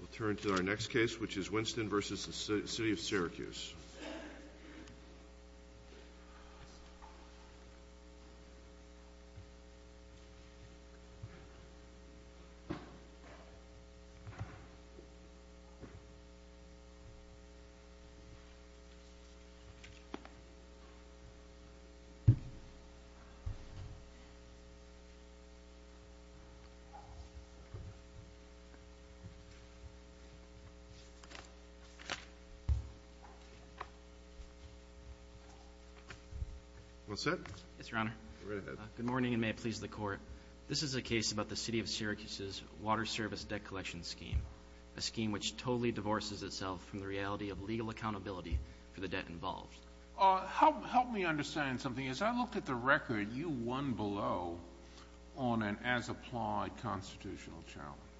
We'll turn to our next case, which is Winston v. City of Syracuse. Good morning, and may it please the Court. This is a case about the City of Syracuse's Water Service Debt Collection Scheme, a scheme which totally divorces itself from the reality of legal accountability for the debt involved. Help me understand something. As I look at the record, you won below on an as-applied constitutional challenge,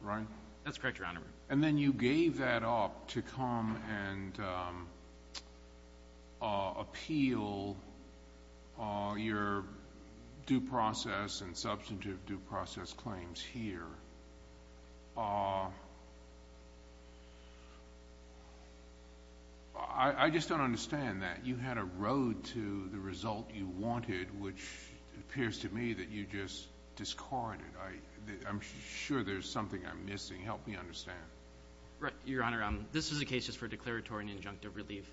right? That's correct, Your Honor. And then you gave that up to come and appeal your due process and substantive due process claims here. I just don't understand that. You had a road to the result you wanted, which appears to me that you just discarded. I'm sure there's something I'm missing. Help me understand. Right. Your Honor, this is a case just for a declaratory and injunctive relief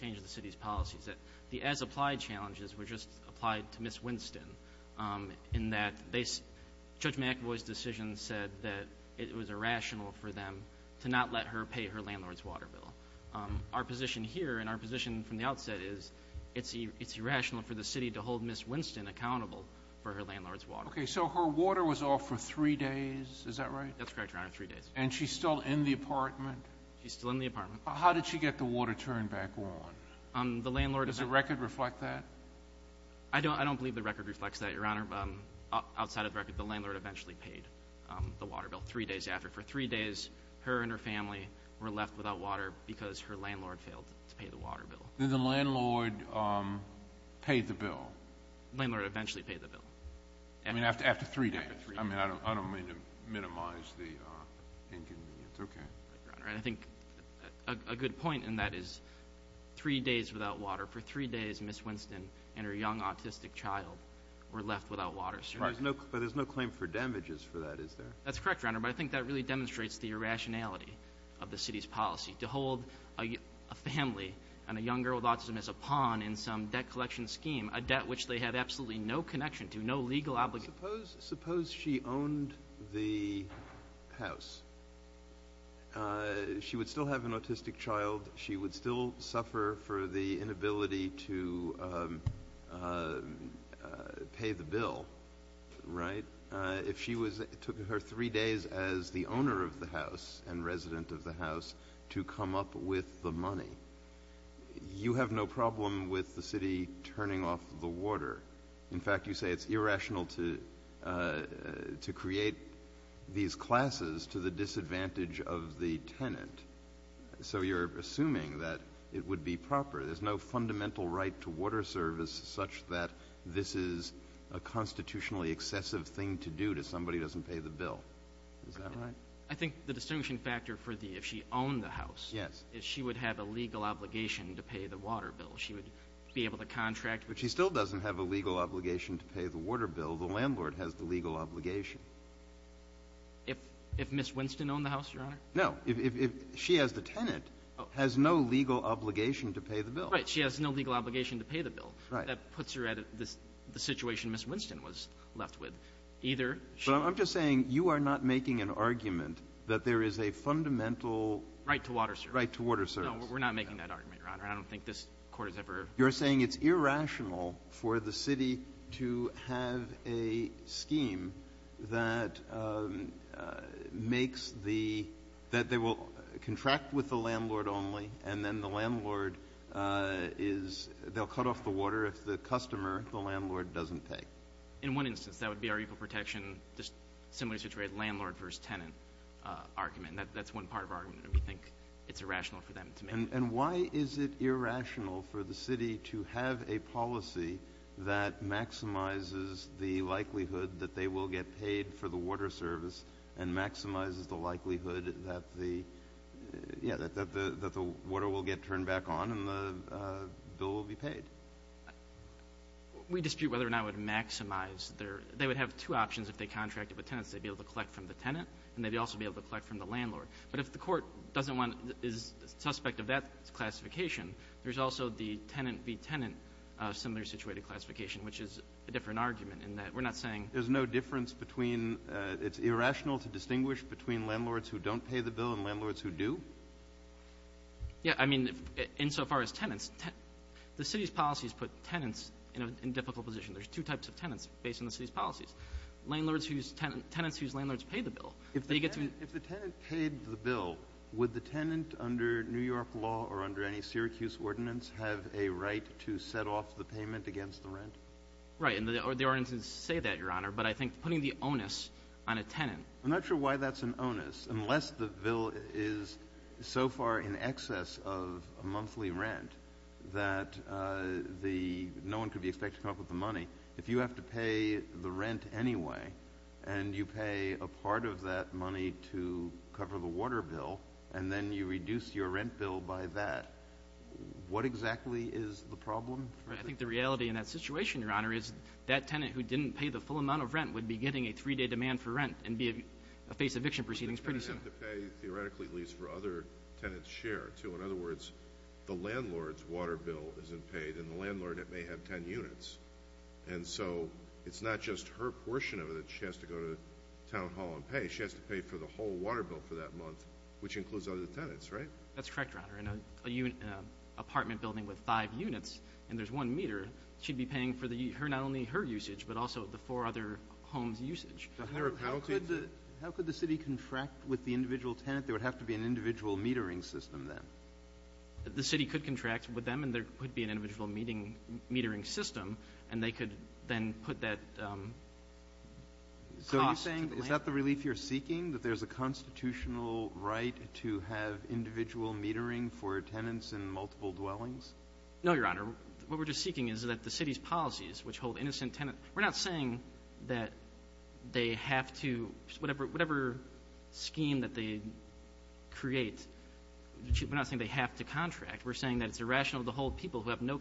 change to the City's policies. The as-applied challenges were just applied to Ms. Winston in that Judge McAvoy's decision said that it was irrational for them to not let her pay her landlord's water bill. Our position here and our position from the outset is it's irrational for the City to hold Ms. Winston accountable for her landlord's water bill. Okay. So her water was off for three days. Is that right? That's correct, Your Honor. Three days. And she's still in the apartment? She's still in the apartment. How did she get the water turned back on? The landlord... Does the record reflect that? I don't believe the record reflects that, Your Honor. Outside of the record, the landlord eventually paid the water bill three days after. For three days, her and her family were left without water because her landlord failed to pay the water bill. Did the landlord pay the bill? Landlord eventually paid the bill. I mean, after three days. After three days. I mean, I don't mean to minimize the inconvenience. Okay. Right, Your Honor. And I think a good point in that is three days without water. For three days, Ms. Winston and her young autistic child were left without water. Right. But there's no claim for damages for that, is there? That's correct, Your Honor. But I think that really demonstrates the irrationality of the City's policy. To hold a family and a young girl with autism as a pawn in some debt collection scheme, a debt which they had absolutely no connection to, no legal obligation. Suppose she owned the house. She would still have an autistic child. She would still suffer for the inability to pay the bill, right? If she was, it took her three days as the owner of the house and resident of the house to come up with the money. You have no problem with the City turning off the water. In fact, you say it's irrational to create these classes to the disadvantage of the tenant. So you're assuming that it would be proper. There's no fundamental right to water service such that this is a constitutionally excessive thing to do to somebody who doesn't pay the bill. Is that right? I think the distinction factor for the, if she owned the house. Yes. Is she would have a legal obligation to pay the water bill. She would be able to contract. But she still doesn't have a legal obligation to pay the water bill. The landlord has the legal obligation. If Ms. Winston owned the house, Your Honor? No. If she as the tenant has no legal obligation to pay the bill. Right. She has no legal obligation to pay the bill. That puts her at the situation Ms. Winston was left with. Either she was the tenant or the landlord. I'm just saying you are not making an argument that there is a fundamental Right to water, sir. No, we're not making that argument, Your Honor. I don't think this court has ever. You're saying it's irrational for the city to have a scheme that makes the, that they will contract with the landlord only, and then the landlord is, they'll cut off the water if the customer, the landlord, doesn't pay. In one instance, that would be our equal protection, just similarly situated landlord versus tenant argument. That's one part of our argument. We think it's irrational for them to make. And why is it irrational for the city to have a policy that maximizes the likelihood that they will get paid for the water service and maximizes the likelihood that the, yeah, that the water will get turned back on and the bill will be paid? We dispute whether or not it would maximize their, they would have two options if they contracted with tenants. They'd be able to collect from the tenant and they'd also be able to collect from the landlord. But if the court doesn't want, is suspect of that classification, there's also the tenant v. tenant similar situated classification, which is a different argument in that we're not saying. There's no difference between, it's irrational to distinguish between landlords who don't pay the bill and landlords who do? Yeah. I mean, insofar as tenants, the city's policies put tenants in a difficult position. There's two types of tenants based on the city's policies. Landlords whose tenants, tenants whose landlords pay the bill. If they get to. If the tenant paid the bill, would the tenant under New York law or under any Syracuse ordinance have a right to set off the payment against the rent? Right. And the ordinances say that, Your Honor, but I think putting the onus on a tenant. I'm not sure why that's an onus unless the bill is so far in excess of a monthly rent that the, no one could be expected to come up with the money. If you have to pay the rent anyway, and you pay a part of that money to cover the water bill, and then you reduce your rent bill by that, what exactly is the problem? Right. I think the reality in that situation, Your Honor, is that tenant who didn't pay the full amount of rent would be getting a three-day demand for rent and be, face eviction proceedings pretty soon. But they're going to have to pay, theoretically, at least for other tenants' share, too. In other words, the landlord's water bill isn't paid, and the landlord may have ten units. And so, it's not just her portion of it that she has to go to town hall and pay. She has to pay for the whole water bill for that month, which includes other tenants, right? That's correct, Your Honor. In an apartment building with five units, and there's one meter, she'd be paying for the, not only her usage, but also the four other homes' usage. How could the city contract with the individual tenant? There would have to be an individual metering system then. The city could contract with them, and there could be an individual metering system, and they could then put that cost to the landlord. So are you saying, is that the relief you're seeking, that there's a constitutional right to have individual metering for tenants in multiple dwellings? No, Your Honor. What we're just seeking is that the city's policies, which hold innocent tenants we're not saying that they have to, whatever scheme that they create, we're not saying they have to contract. We're saying that it's irrational to hold people who have no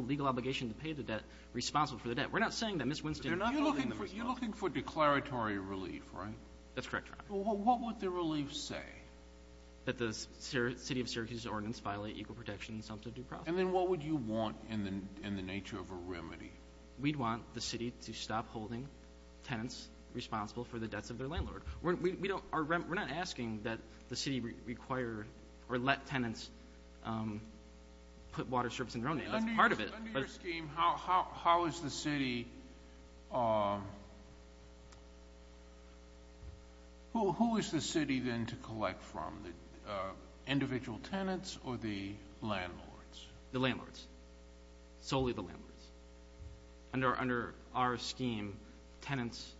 legal obligation to pay the debt responsible for the debt. We're not saying that Ms. Winston is not holding them responsible. You're looking for declaratory relief, right? That's correct, Your Honor. Well, what would the relief say? That the city of Syracuse's ordinance violate equal protection in the sum of the due process. And then what would you want in the nature of a remedy? We'd want the city to stop holding tenants responsible for the debts of their landlord. We're not asking that the city require or let tenants put water strips in their own name. That's part of it. Under your scheme, how is the city, who is the city then to collect from, the individual tenants or the landlords? The landlords. Solely the landlords. Under our scheme, tenants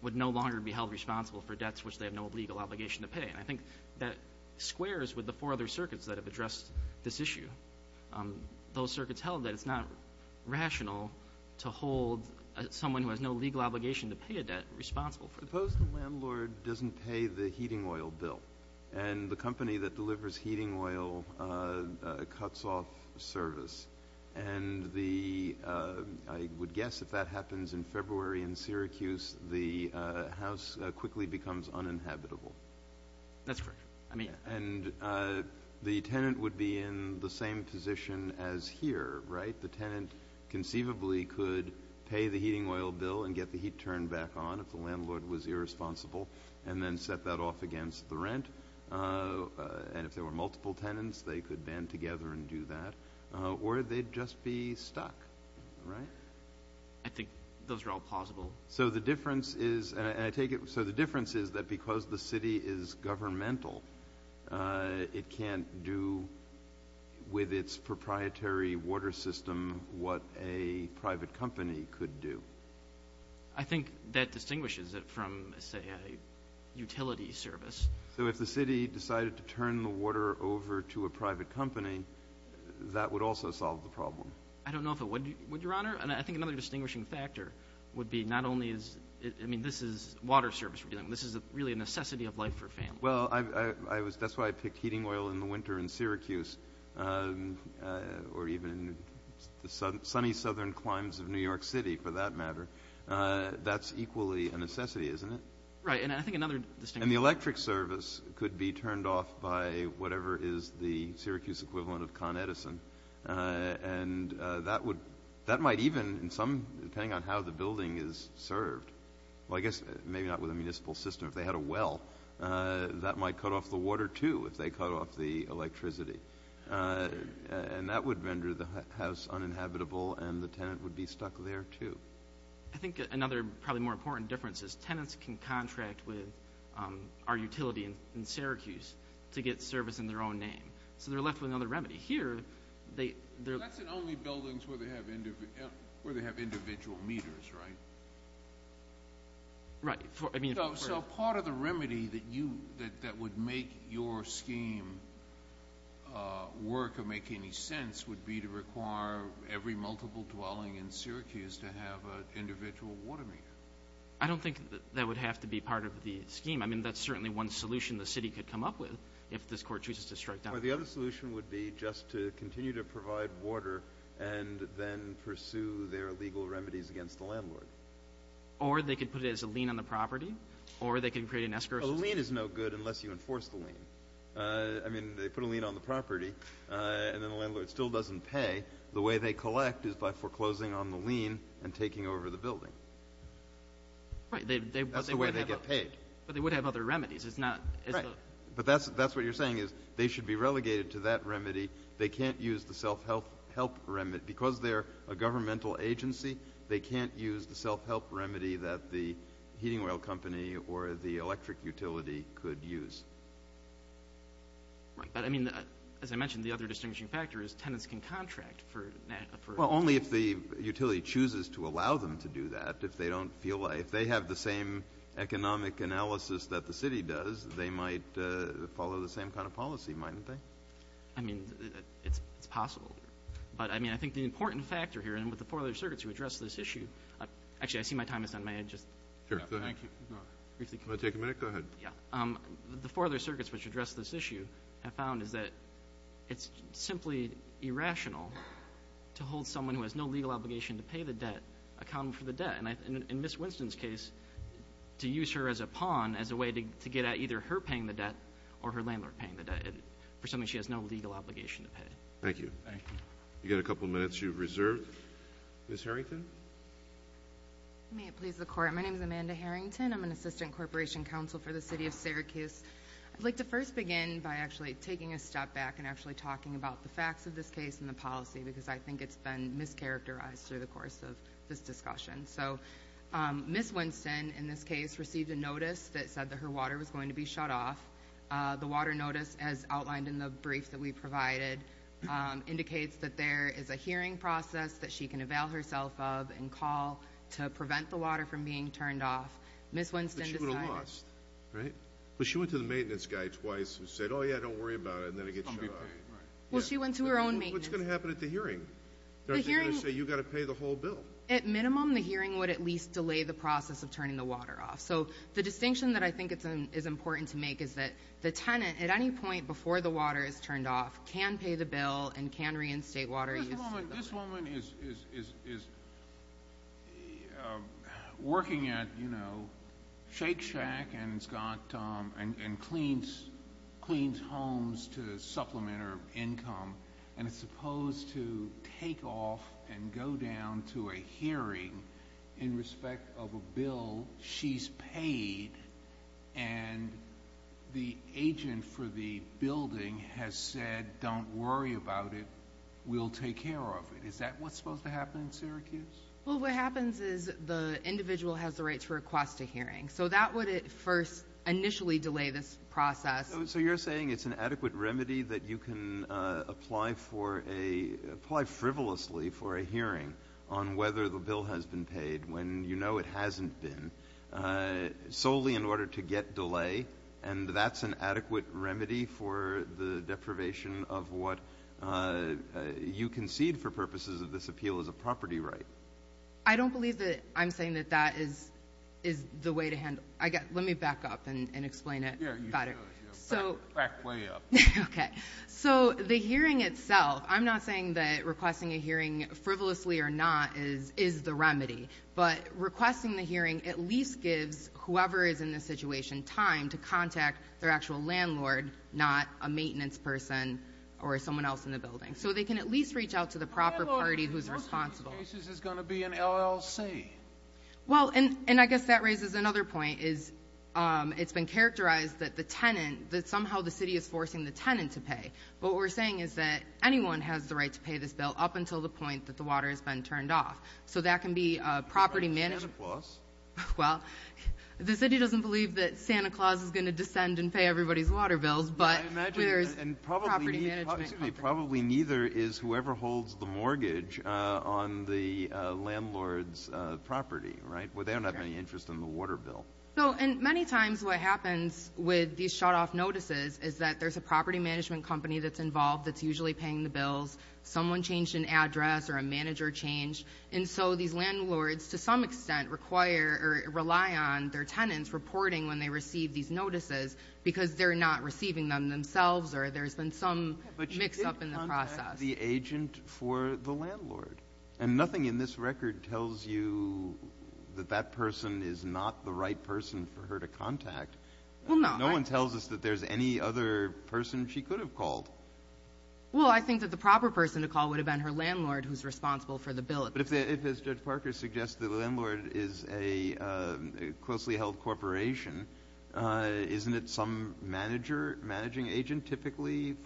would no longer be held responsible for debts which they have no legal obligation to pay. And I think that squares with the four other circuits that have addressed this issue. Those circuits held that it's not rational to hold someone who has no legal obligation to pay a debt responsible for it. Suppose the landlord doesn't pay the heating oil bill and the company that delivers heating oil cuts off service. And the, I would guess if that happens in February in Syracuse, the house quickly becomes uninhabitable. That's correct. I mean. And the tenant would be in the same position as here, right? The tenant conceivably could pay the heating oil bill and get the heat turned back on if the landlord was irresponsible and then set that off against the rent. And if there were multiple tenants, they could band together and do that. Or they'd just be stuck. Right? I think those are all plausible. So the difference is, and I take it, so the difference is that because the city is governmental, it can't do with its proprietary water system what a private company could do. I think that distinguishes it from, say, a utility service. So if the city decided to turn the water over to a private company, that would also solve the problem. I don't know if it would, Your Honor. And I think another distinguishing factor would be not only is, I mean, this is water service. This is really a necessity of life for families. Well, that's why I picked heating oil in the winter in Syracuse or even in the sunny southern climes of New York City, for that matter. That's equally a necessity, isn't it? Right. And the electric service could be turned off by whatever is the Syracuse equivalent of Con Edison. And that might even, depending on how the building is served, well, I guess maybe not with a municipal system. If they had a well, that might cut off the water, too, if they cut off the electricity. And that would render the house uninhabitable, and the tenant would be stuck there, too. I think another probably more important difference is tenants can contract with our utility in Syracuse to get service in their own name. So they're left with another remedy. Here they're – That's in only buildings where they have individual meters, right? Right. So part of the remedy that would make your scheme work or make any sense would be to require every multiple dwelling in Syracuse to have an individual water meter. I don't think that would have to be part of the scheme. I mean, that's certainly one solution the city could come up with if this court chooses to strike down. Well, the other solution would be just to continue to provide water and then pursue their legal remedies against the landlord. Or they could put it as a lien on the property, or they could create an escrow system. A lien is no good unless you enforce the lien. I mean, they put a lien on the property, and then the landlord still doesn't pay. The way they collect is by foreclosing on the lien and taking over the building. Right. That's the way they get paid. But they would have other remedies. Right. But that's what you're saying is they should be relegated to that remedy. They can't use the self-help remedy. Because they're a governmental agency, they can't use the self-help remedy that the heating oil company or the electric utility could use. Right. But, I mean, as I mentioned, the other distinguishing factor is tenants can contract for natural gas. Well, only if the utility chooses to allow them to do that. If they don't feel like they have the same economic analysis that the city does, they might follow the same kind of policy, mightn't they? I mean, it's possible. But, I mean, I think the important factor here, and with the four other circuits who addressed this issue, actually, I see my time is done. May I just? Sure. Go ahead. Can I take a minute? Go ahead. Yeah. The four other circuits which addressed this issue have found is that it's simply irrational to hold someone who has no legal obligation to pay the debt, account them for the debt. And in Ms. Winston's case, to use her as a pawn as a way to get at either her paying the debt or her landlord paying the debt for something she has no legal obligation to pay. Thank you. Thank you. You've got a couple minutes. You've reserved. Ms. Harrington? May it please the Court, my name is Amanda Harrington. I'm an Assistant Corporation Counsel for the City of Syracuse. I'd like to first begin by actually taking a step back and actually talking about the facts of this case and the policy, because I think it's been mischaracterized through the course of this discussion. So, Ms. Winston, in this case, received a notice that said that her water was going to be shut off. The water notice, as outlined in the brief that we provided, indicates that there is a hearing process that she can avail herself of and call to prevent the water from being turned off. Ms. Winston decided... But she would have lost, right? But she went to the maintenance guy twice and said, oh, yeah, don't worry about it, and then it gets shut off. Well, she went to her own maintenance. What's going to happen at the hearing? They're not going to say, you've got to pay the whole bill. At minimum, the hearing would at least delay the process of turning the water off. So the distinction that I think is important to make is that the tenant, at any point before the water is turned off, can pay the bill and can reinstate water use. This woman is working at, you know, Shake Shack and cleans homes to supplement her income, and is supposed to take off and go down to a hearing in respect of a bill she's paid, and the agent for the building has said, don't worry about it, we'll take care of it. Is that what's supposed to happen in Syracuse? Well, what happens is the individual has the right to request a hearing. So that would at first initially delay this process. So you're saying it's an adequate remedy that you can apply frivolously for a hearing on whether the bill has been paid when you know it hasn't been, solely in order to get delay, and that's an adequate remedy for the deprivation of what you concede for purposes of this appeal as a property right? I don't believe that I'm saying that that is the way to handle it. Let me back up and explain it better. Back way up. Okay. So the hearing itself, I'm not saying that requesting a hearing frivolously or not is the remedy, but requesting the hearing at least gives whoever is in the situation time to contact their actual landlord, not a maintenance person or someone else in the building. So they can at least reach out to the proper party who's responsible. In most cases it's going to be an LLC. Well, and I guess that raises another point is it's been characterized that the tenant, that somehow the city is forcing the tenant to pay. What we're saying is that anyone has the right to pay this bill up until the point that the water has been turned off. So that can be property management. Santa Claus. Well, the city doesn't believe that Santa Claus is going to descend and pay everybody's water bills. And probably neither is whoever holds the mortgage on the landlord's property, right? They don't have any interest in the water bill. And many times what happens with these shutoff notices is that there's a property management company that's involved that's usually paying the bills. Someone changed an address or a manager changed. And so these landlords to some extent require or rely on their tenants reporting when they receive these notices because they're not receiving them themselves or there's been some mix-up in the process. But you did contact the agent for the landlord. And nothing in this record tells you that that person is not the right person for her to contact. Well, no. No one tells us that there's any other person she could have called. Well, I think that the proper person to call would have been her landlord who's responsible for the bill. But if, as Judge Parker suggested, the landlord is a closely held corporation, isn't it some manager, managing agent typically?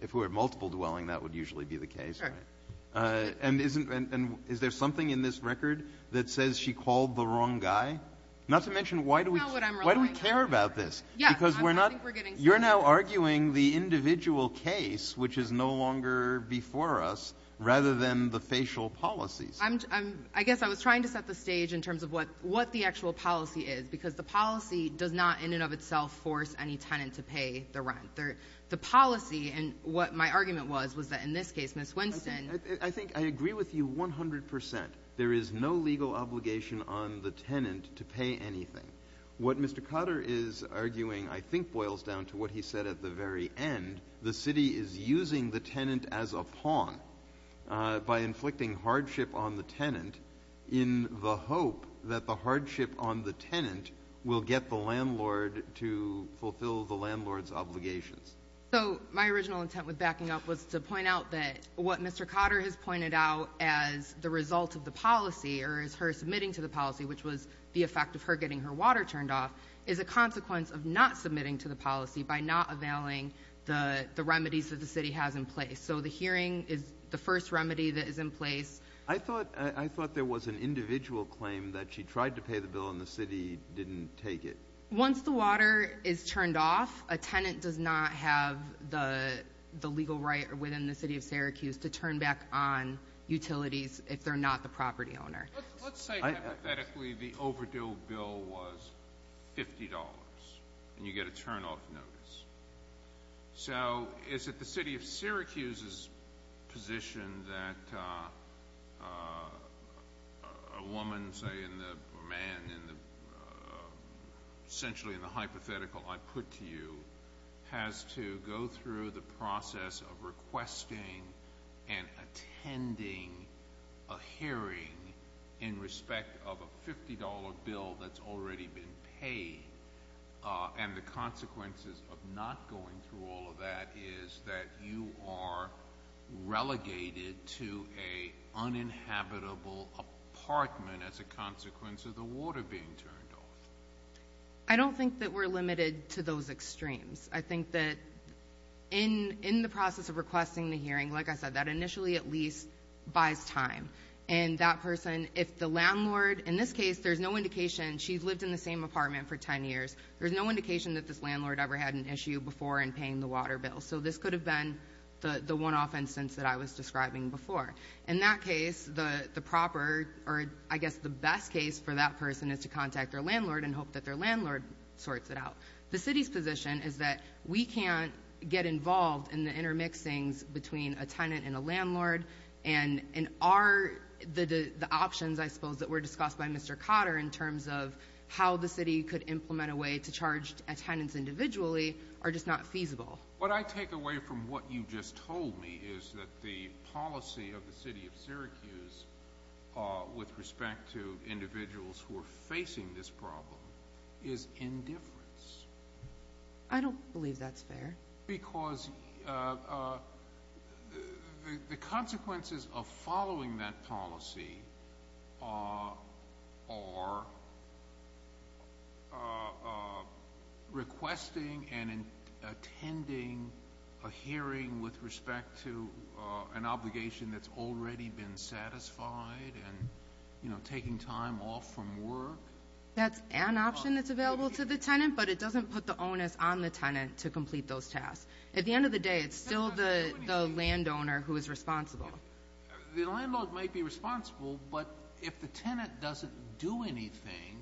If we're at multiple dwelling, that would usually be the case, right? Sure. And is there something in this record that says she called the wrong guy? Not to mention why do we care about this? Because you're now arguing the individual case, which is no longer before us, rather than the facial policies. I guess I was trying to set the stage in terms of what the actual policy is because the policy does not in and of itself force any tenant to pay the rent. The policy, and what my argument was, was that in this case, Ms. Winston. I think I agree with you 100%. There is no legal obligation on the tenant to pay anything. What Mr. Cotter is arguing I think boils down to what he said at the very end. The city is using the tenant as a pawn by inflicting hardship on the tenant in the hope that the hardship on the tenant will get the landlord to fulfill the landlord's obligations. So my original intent with backing up was to point out that what Mr. Cotter has pointed out as the result of the policy or as her submitting to the policy, which was the effect of her getting her water turned off, is a consequence of not submitting to the policy by not availing the remedies that the city has in place. So the hearing is the first remedy that is in place. I thought there was an individual claim that she tried to pay the bill and the city didn't take it. Once the water is turned off, a tenant does not have the legal right within the city of Syracuse to turn back on utilities if they're not the property owner. Let's say hypothetically the overdue bill was $50 and you get a turnoff notice. So is it the city of Syracuse's position that a woman, say, a man, essentially in the hypothetical I put to you, has to go through the process of requesting and attending a hearing in respect of a $50 bill that's already been paid? And the consequences of not going through all of that is that you are relegated to an uninhabitable apartment as a consequence of the water being turned off. I don't think that we're limited to those extremes. I think that in the process of requesting the hearing, like I said, that initially at least buys time. And that person, if the landlord, in this case, there's no indication. She's lived in the same apartment for 10 years. There's no indication that this landlord ever had an issue before in paying the water bill. So this could have been the one-off instance that I was describing before. In that case, the proper or I guess the best case for that person is to contact their landlord and hope that their landlord sorts it out. The city's position is that we can't get involved in the intermixings between a tenant and a landlord. And the options, I suppose, that were discussed by Mr. Cotter in terms of how the city could implement a way to charge a tenant individually are just not feasible. What I take away from what you just told me is that the policy of the city of Syracuse with respect to individuals who are facing this problem is indifference. I don't believe that's fair. Because the consequences of following that policy are requesting and attending a hearing with respect to an obligation that's already been satisfied and, you know, taking time off from work. That's an option that's available to the tenant, but it doesn't put the onus on the tenant to complete those tasks. At the end of the day, it's still the landowner who is responsible. The landlord might be responsible, but if the tenant doesn't do anything,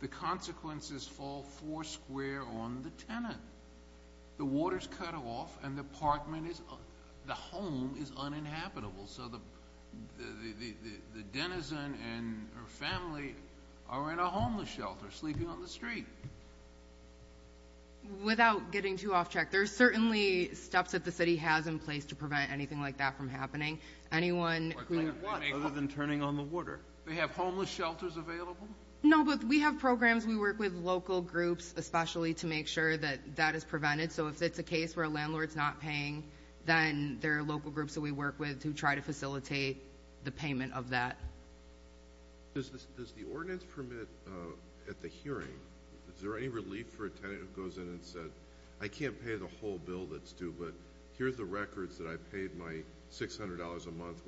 the consequences fall foursquare on the tenant. The water's cut off and the home is uninhabitable. So the denizen and her family are in a homeless shelter sleeping on the street. Without getting too off track, there are certainly steps that the city has in place to prevent anything like that from happening. Other than turning on the water. They have homeless shelters available? No, but we have programs. We work with local groups, especially, to make sure that that is prevented. So if it's a case where a landlord's not paying, then there are local groups that we work with to try to facilitate the payment of that. Does the ordinance permit at the hearing, is there any relief for a tenant who goes in and says, I can't pay the whole bill that's due, but here's the records that I paid my $600 a month,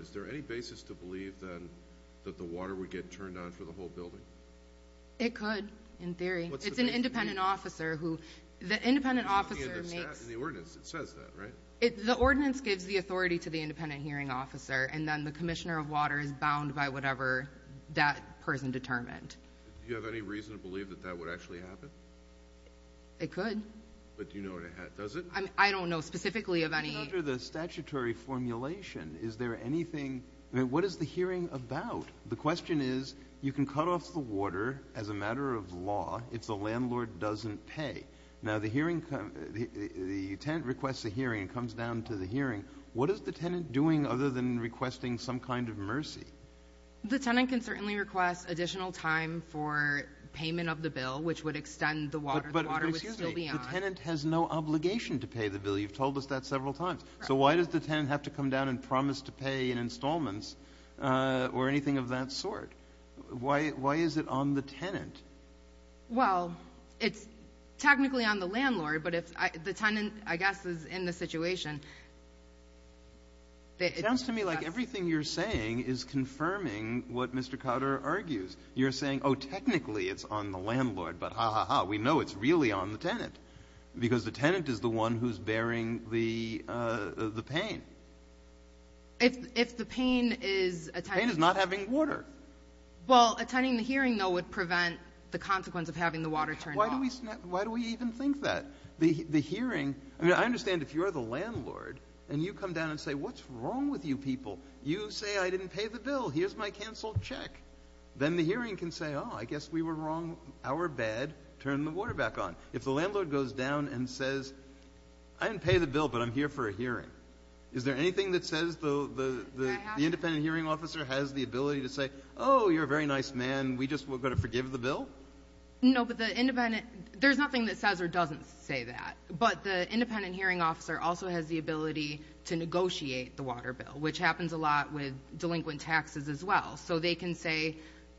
Is there any basis to believe, then, that the water would get turned on for the whole building? It could, in theory. What's the basis? It's an independent officer who – the independent officer makes – In the ordinance, it says that, right? The ordinance gives the authority to the independent hearing officer, and then the commissioner of water is bound by whatever that person determined. Do you have any reason to believe that that would actually happen? It could. But do you know what it – does it? I don't know specifically of any – Under the statutory formulation, is there anything – I mean, what is the hearing about? The question is, you can cut off the water as a matter of law if the landlord doesn't pay. Now, the hearing – the tenant requests a hearing and comes down to the hearing. What is the tenant doing other than requesting some kind of mercy? The tenant can certainly request additional time for payment of the bill, which would extend the water. The water would still be on. But, excuse me, the tenant has no obligation to pay the bill. You've told us that several times. So why does the tenant have to come down and promise to pay in installments or anything of that sort? Why is it on the tenant? Well, it's technically on the landlord, but the tenant, I guess, is in the situation. It sounds to me like everything you're saying is confirming what Mr. Cotter argues. You're saying, oh, technically it's on the landlord, but ha, ha, ha, we know it's really on the tenant because the tenant is the one who's bearing the pain. If the pain is attending. The pain is not having water. Well, attending the hearing, though, would prevent the consequence of having the water turned off. Why do we even think that? The hearing – I mean, I understand if you're the landlord and you come down and say, what's wrong with you people? You say, I didn't pay the bill. Here's my canceled check. Then the hearing can say, oh, I guess we were wrong. Our bad. Turn the water back on. If the landlord goes down and says, I didn't pay the bill, but I'm here for a hearing, is there anything that says the independent hearing officer has the ability to say, oh, you're a very nice man, we're just going to forgive the bill? No, but the independent – there's nothing that says or doesn't say that. But the independent hearing officer also has the ability to negotiate the water bill, which happens a lot with delinquent taxes as well. So they can say,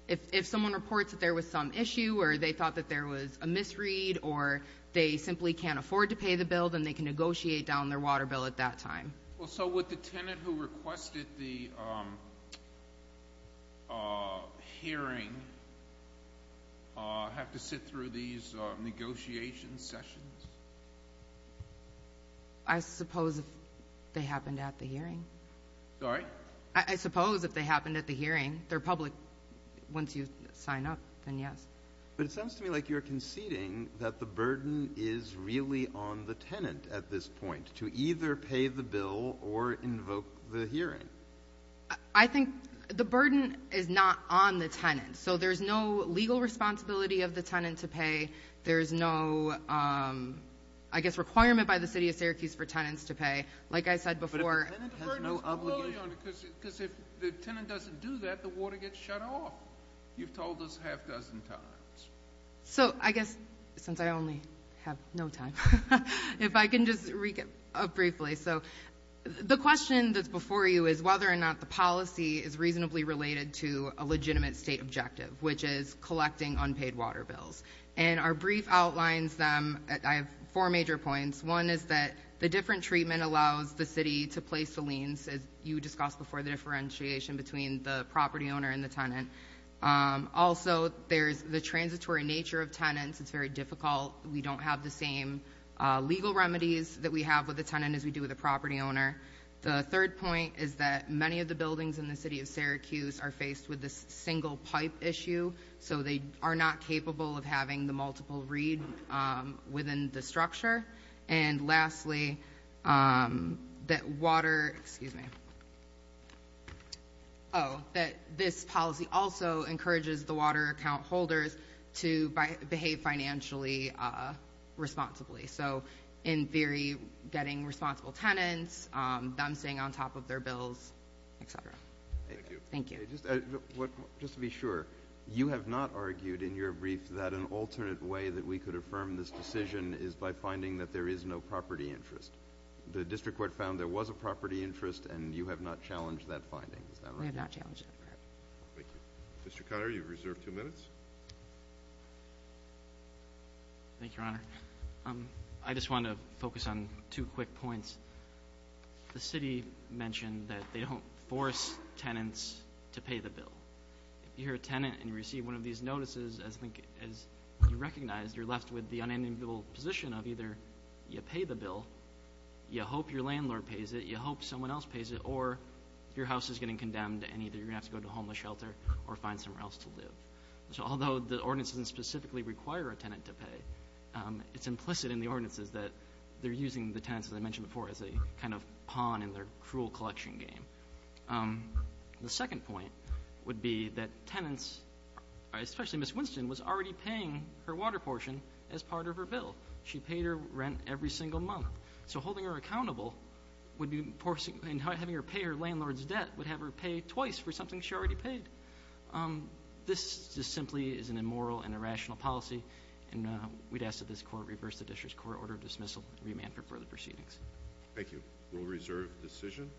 if someone reports that there was some issue or they thought that there was a misread or they simply can't afford to pay the bill, then they can negotiate down their water bill at that time. So would the tenant who requested the hearing have to sit through these negotiation sessions? I suppose if they happened at the hearing. Sorry? I suppose if they happened at the hearing. They're public. Once you sign up, then yes. But it sounds to me like you're conceding that the burden is really on the tenant at this point to either pay the bill or invoke the hearing. I think the burden is not on the tenant. So there's no legal responsibility of the tenant to pay. There's no, I guess, requirement by the city of Syracuse for tenants to pay. Like I said before. But if the tenant doesn't do that, the water gets shut off. You've told us a half dozen times. So I guess since I only have no time, if I can just recap briefly. So the question that's before you is whether or not the policy is reasonably related to a legitimate state objective, which is collecting unpaid water bills. And our brief outlines them. I have four major points. One is that the different treatment allows the city to place the liens, as you discussed before, the differentiation between the property owner and the tenant. Also, there's the transitory nature of tenants. It's very difficult. We don't have the same legal remedies that we have with the tenant as we do with the property owner. The third point is that many of the buildings in the city of Syracuse are faced with the single pipe issue. So they are not capable of having the multiple reed within the structure. And lastly, that water ‑‑ excuse me. Oh, that this policy also encourages the water account holders to behave financially responsibly. So in theory, getting responsible tenants, them staying on top of their bills, et cetera. Thank you. Okay. Just to be sure, you have not argued in your brief that an alternate way that we could affirm this decision is by finding that there is no property interest. The district court found there was a property interest, and you have not challenged that finding. Is that right? We have not challenged it. Thank you. Mr. Conner, you have reserved two minutes. Thank you, Your Honor. I just want to focus on two quick points. The city mentioned that they don't force tenants to pay the bill. If you're a tenant and you receive one of these notices, I think as you recognize, you're left with the unenviable position of either you pay the bill, you hope your landlord pays it, you hope someone else pays it, or your house is getting condemned and either you're going to have to go to a homeless shelter or find somewhere else to live. So although the ordinance doesn't specifically require a tenant to pay, it's implicit in the ordinances that they're using the tenants, as I mentioned before, as a kind of pawn in their cruel collection game. The second point would be that tenants, especially Ms. Winston, was already paying her water portion as part of her bill. She paid her rent every single month. So holding her accountable and having her pay her landlord's debt would have her pay twice for something she already paid. This just simply is an immoral and irrational policy, and we'd ask that this court reverse the district court order of dismissal and remand for further proceedings. Thank you. Rule reserve decision.